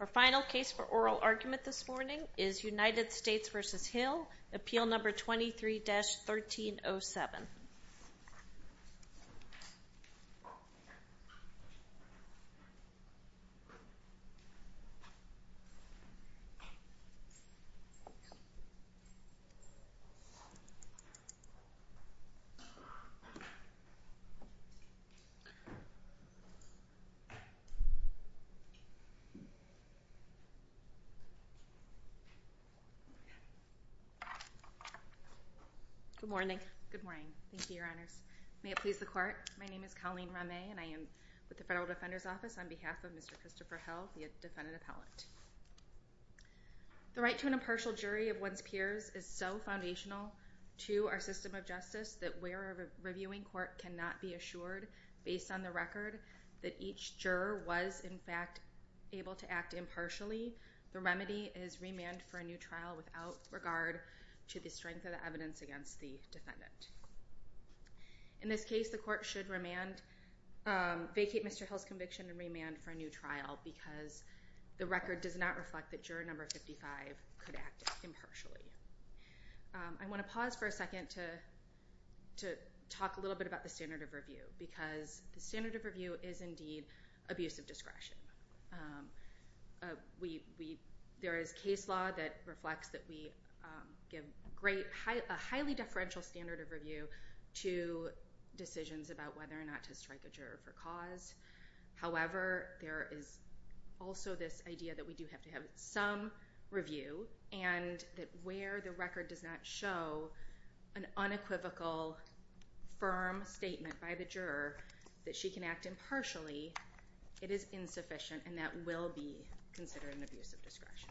Our final case for oral argument this morning is United States v. Hill, appeal number 23-1307. Colleen Ramay Good morning, thank you, your honors. May it please the court, my name is Colleen Ramay and I am with the Federal Defender's Office on behalf of Mr. Christopher Hill, the defendant appellant. The right to an impartial jury of one's peers is so foundational to our system of justice that where a reviewing court cannot be assured based on the record that each juror was in fact able to act impartially, the remedy is remand for a new trial without regard to the strength of the evidence against the defendant. In this case, the court should vacate Mr. Hill's conviction and remand for a new trial because the record does not reflect that juror number 55 could act impartially. I want to pause for a second to talk a little bit about the standard of review because the standard of review is indeed abuse of discretion. There is case law that reflects that we give a highly deferential standard of review to decisions about whether or not to strike a juror for cause. However, there is also this idea that we do have to have some review and that where the record does not show an unequivocal firm statement by the juror that she can act impartially, it is insufficient and that will be considered an abuse of discretion.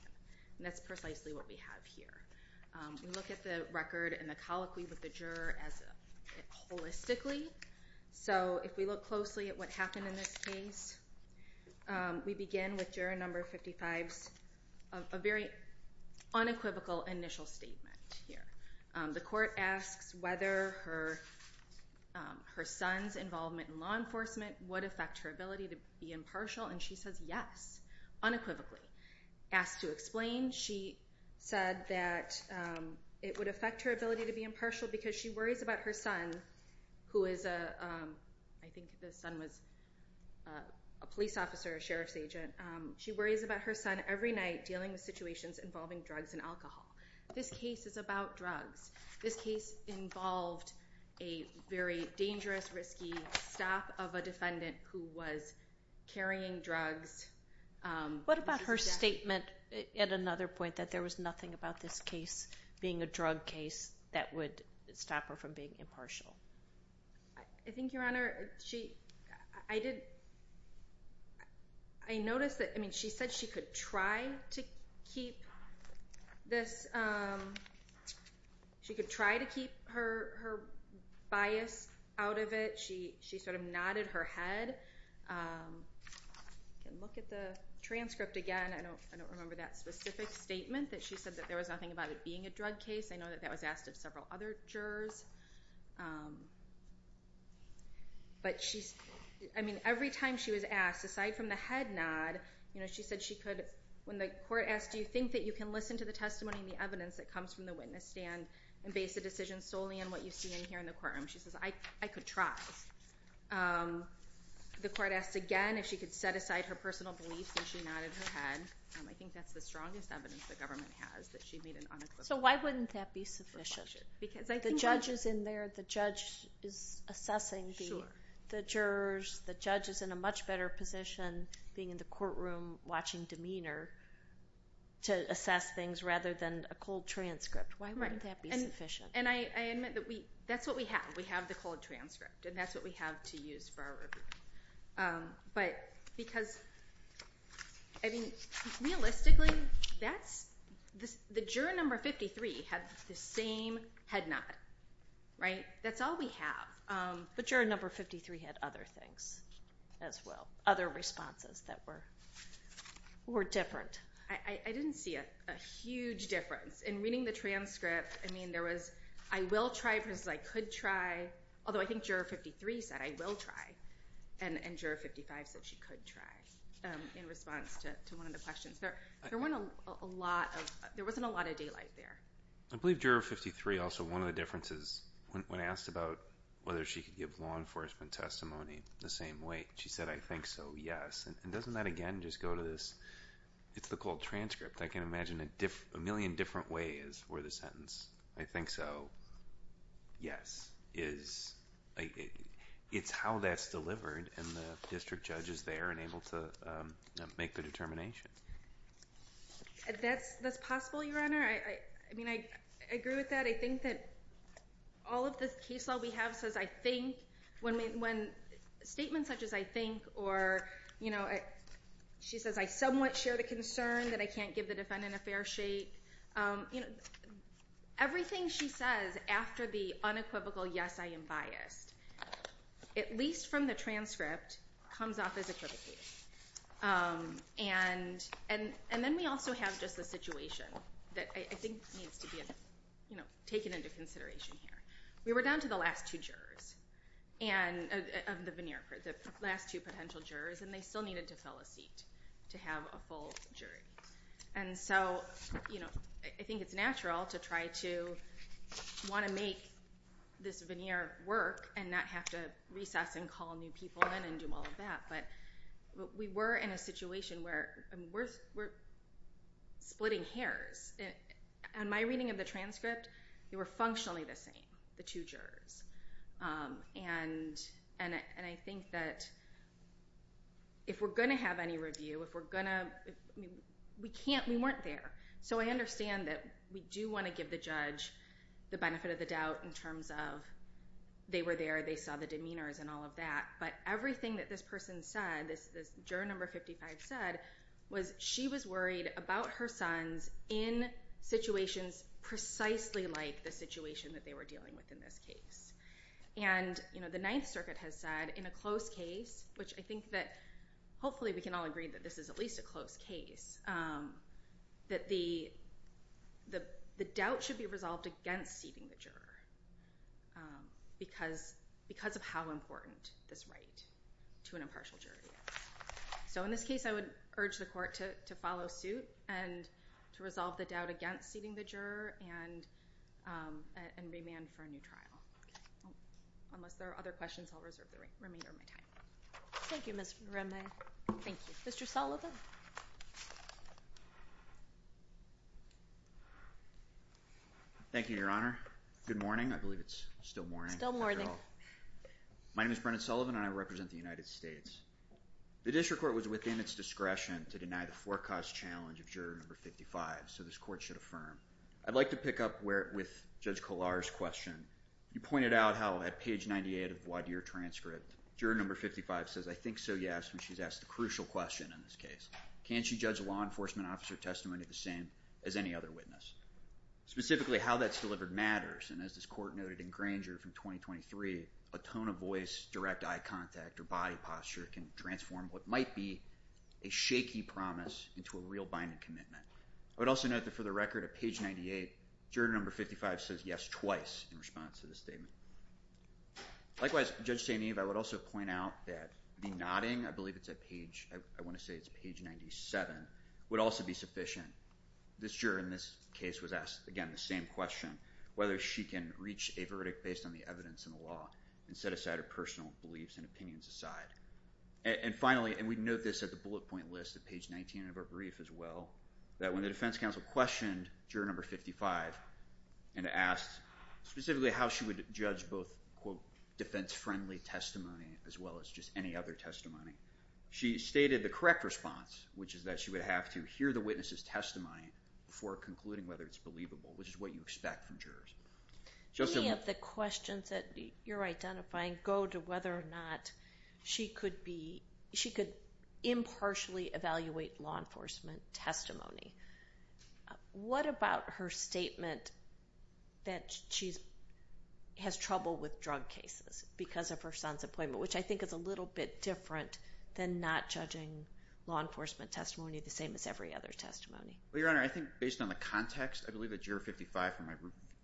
That's precisely what we have here. We look at the record and the colloquy with the juror holistically. If we look closely at what happened in this case, we begin with juror number 55's unequivocal initial statement. The court asks whether her son's involvement in law enforcement would affect her ability to be impartial and she says yes, unequivocally. Asked to explain, she said that it would affect her ability to be impartial because she worries about her son who is a police officer, a sheriff's agent. She worries about her son every night dealing with situations involving drugs and alcohol. This case is about drugs. This case involved a very dangerous, risky stop of a defendant who was carrying drugs. What about her statement at another point that there was nothing about this case being a drug case that would stop her from being impartial? I think, Your Honor, I noticed that she said she could try to keep her bias out of it. She sort of nodded her head. I can look at the transcript again. I don't remember that specific statement that she said that there was nothing about it being a drug case. I know that that was asked of several other jurors. Every time she was asked, aside from the head nod, she said she could, when the court asked, do you think that you can listen to the testimony and the evidence that comes from the witness stand and base a decision solely on what you see in here in the courtroom? She says, I could try. The court asked again if she could set aside her personal beliefs and she nodded her head. I think that's the strongest evidence the government has that she made an unequivocal statement. So why wouldn't that be sufficient? The judge is in there. The judge is assessing the jurors. The judge is in a much better position being in the courtroom watching demeanor to assess things rather than a cold transcript. Why wouldn't that be sufficient? I admit that that's what we have. We have the cold transcript and that's what we have to use for our review. Realistically, the juror number 53 had the same head nod. That's all we have. But juror number 53 had other things as well, other responses that were different. I didn't see a huge difference. In reading the transcript, there was I will try versus I could try, although I think juror 53 said I will try. And juror 55 said she could try in response to one of the questions. There wasn't a lot of daylight there. I believe juror 53 also, one of the differences when asked about whether she could give law enforcement testimony the same way, she said I think so, yes. And doesn't that again just go to this, it's the cold transcript. I can imagine a million different ways for the sentence. I think so, yes. It's how that's delivered and the district judge is there and able to make the determination. That's possible, Your Honor. I mean, I agree with that. I think that all of the case law we have says I think when statements such as I think or, you know, she says I somewhat share the concern that I can't give the defendant a fair shake. Everything she says after the unequivocal yes, I am biased, at least from the transcript, comes off as equivocating. And then we also have just the situation that I think needs to be taken into consideration here. We were down to the last two jurors of the veneer court, the last two potential jurors, and they still needed to fill a seat to have a full jury. And so, you know, I think it's natural to try to want to make this veneer work and not have to recess and call new people in and do all of that. But we were in a situation where we're splitting hairs. In my reading of the transcript, they were functionally the same, the two jurors. And I think that if we're going to have any review, if we're going to, we can't, we weren't there. So I understand that we do want to give the judge the benefit of the doubt in terms of they were there, they saw the demeanors and all of that. But everything that this person said, this juror number 55 said, was she was worried about her sons in situations precisely like the situation that they were dealing with in this case. And, you know, the Ninth Circuit has said in a close case, which I think that hopefully we can all agree that this is at least a close case, that the doubt should be resolved against seating the juror because of how important this right to an impartial jury is. So in this case, I would urge the court to follow suit and to resolve the doubt against seating the juror and remand for a new trial. Unless there are other questions, I'll reserve the remainder of my time. Thank you, Ms. Remy. Thank you. Mr. Sullivan. Thank you, Your Honor. Good morning. I believe it's still morning. Still morning. My name is Brennan Sullivan and I represent the United States. The district court was within its discretion to deny the forecast challenge of juror number 55. So this court should affirm. I'd like to pick up with Judge Kollar's question. You pointed out how at page 98 of the voir dire transcript, juror number 55 says, I think so, yes, when she's asked the crucial question in this case. Can she judge a law enforcement officer testimony the same as any other witness? Specifically, how that's delivered matters. And as this court noted in Granger from 2023, a tone of voice, direct eye contact, or body posture can transform what might be a shaky promise into a real binding commitment. I would also note that for the record at page 98, juror number 55 says yes twice in response to this statement. Likewise, Judge St. Eve, I would also point out that the nodding, I believe it's at page, I want to say it's page 97, would also be sufficient. This juror in this case was asked, again, the same question, whether she can reach a verdict based on the evidence in the law and set aside her personal beliefs and opinions aside. And finally, and we note this at the bullet point list at page 19 of our brief as well, that when the defense counsel questioned juror number 55 and asked specifically how she would judge both, quote, defense-friendly testimony as well as just any other testimony, she stated the correct response, which is that she would have to hear the witness's testimony before concluding whether it's believable, which is what you expect from jurors. Any of the questions that you're identifying go to whether or not she could be, she could impartially evaluate law enforcement testimony. What about her statement that she has trouble with drug cases because of her son's appointment, which I think is a little bit different than not judging law enforcement testimony the same as every other testimony. Well, Your Honor, I think based on the context, I believe that juror 55,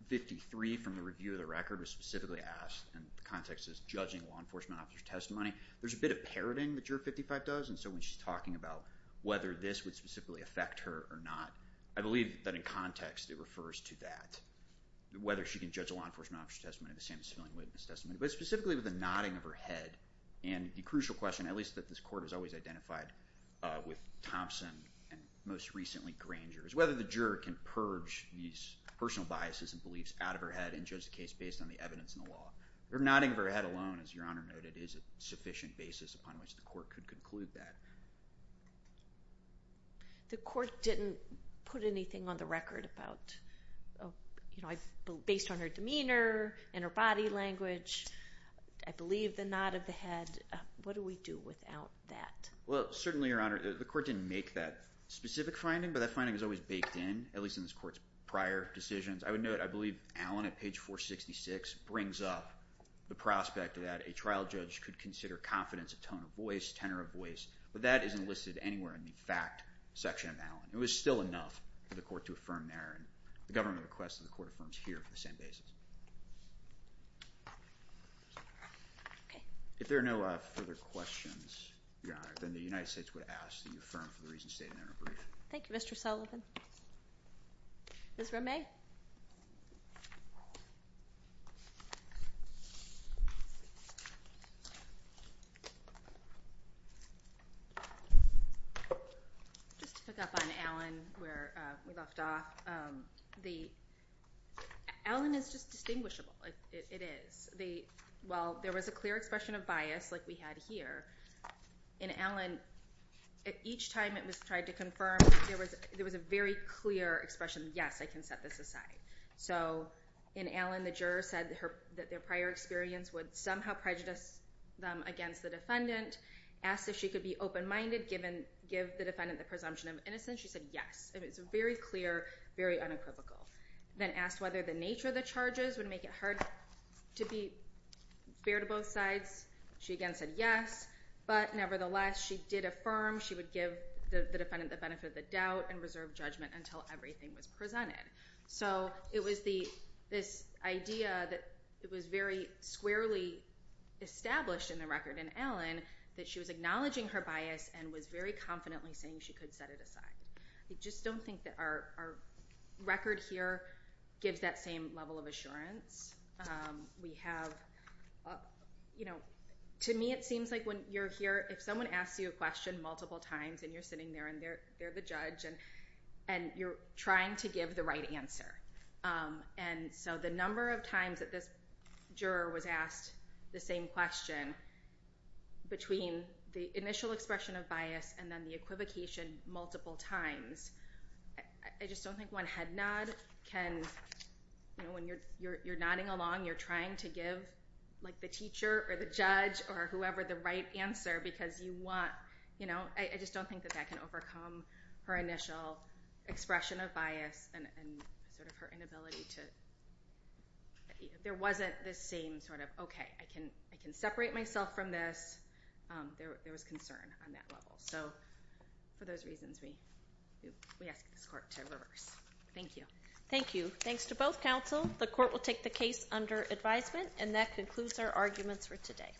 53 from the review of the record was specifically asked, and the context is judging law enforcement officer's testimony. There's a bit of parroting that juror 55 does, and so when she's talking about whether this would specifically affect her or not, I believe that in context it refers to that, whether she can judge a law enforcement officer's testimony the same as a civilian witness testimony. But specifically with the nodding of her head, and the crucial question, at least that this court has always identified with Thompson and most recently Granger, is whether the juror can purge these personal biases and beliefs out of her head and judge the case based on the evidence in the law. Her nodding of her head alone, as Your Honor noted, is a sufficient basis upon which the court could conclude that. The court didn't put anything on the record based on her demeanor, in her body language, I believe the nod of the head. What do we do without that? Well, certainly, Your Honor, the court didn't make that specific finding, but that finding was always baked in, at least in this court's prior decisions. I would note, I believe Allen at page 466 brings up the prospect that a trial judge could consider confidence, a tone of voice, tenor of voice, but that isn't listed anywhere in the fact section of Allen. It was still enough for the court to affirm there, and the government request that the court affirms here for the same basis. If there are no further questions, Your Honor, then the United States would ask that you affirm for the reasons stated in your brief. Thank you, Mr. Sullivan. Ms. Romay? Just to pick up on Allen, where we left off, Allen is just distinguishable. It is. While there was a clear expression of bias, like we had here, in Allen, each time it was tried to confirm, there was a very clear expression, yes, I can set this aside. So in Allen, the juror said that their prior experience would somehow prejudice them against the defendant, asked if she could be open-minded, give the defendant the presumption of innocence. She said yes. It was very clear, very unequivocal. Then asked whether the nature of the charges would make it hard to be fair to both sides. She again said yes, but nevertheless, she did affirm she would give the defendant the benefit of the doubt and reserve judgment until everything was presented. So it was this idea that was very squarely established in the record in Allen that she was acknowledging her bias and was very confidently saying she could set it aside. I just don't think that our record here gives that same level of assurance. We have, you know, to me it seems like when you're here, if someone asks you a question multiple times and you're sitting there and they're the judge and you're trying to give the right answer. And so the number of times that this juror was asked the same question between the initial expression of bias and then the equivocation multiple times. I just don't think one head nod can, you know, when you're nodding along, you're trying to give like the teacher or the judge or whoever the right answer because you want, you know. I just don't think that that can overcome her initial expression of bias and sort of her inability to, there wasn't this same sort of okay, I can separate myself from this. There was concern on that level. So for those reasons, we ask this court to reverse. Thank you. Thank you. Thanks to both counsel. The court will take the case under advisement and that concludes our arguments for today.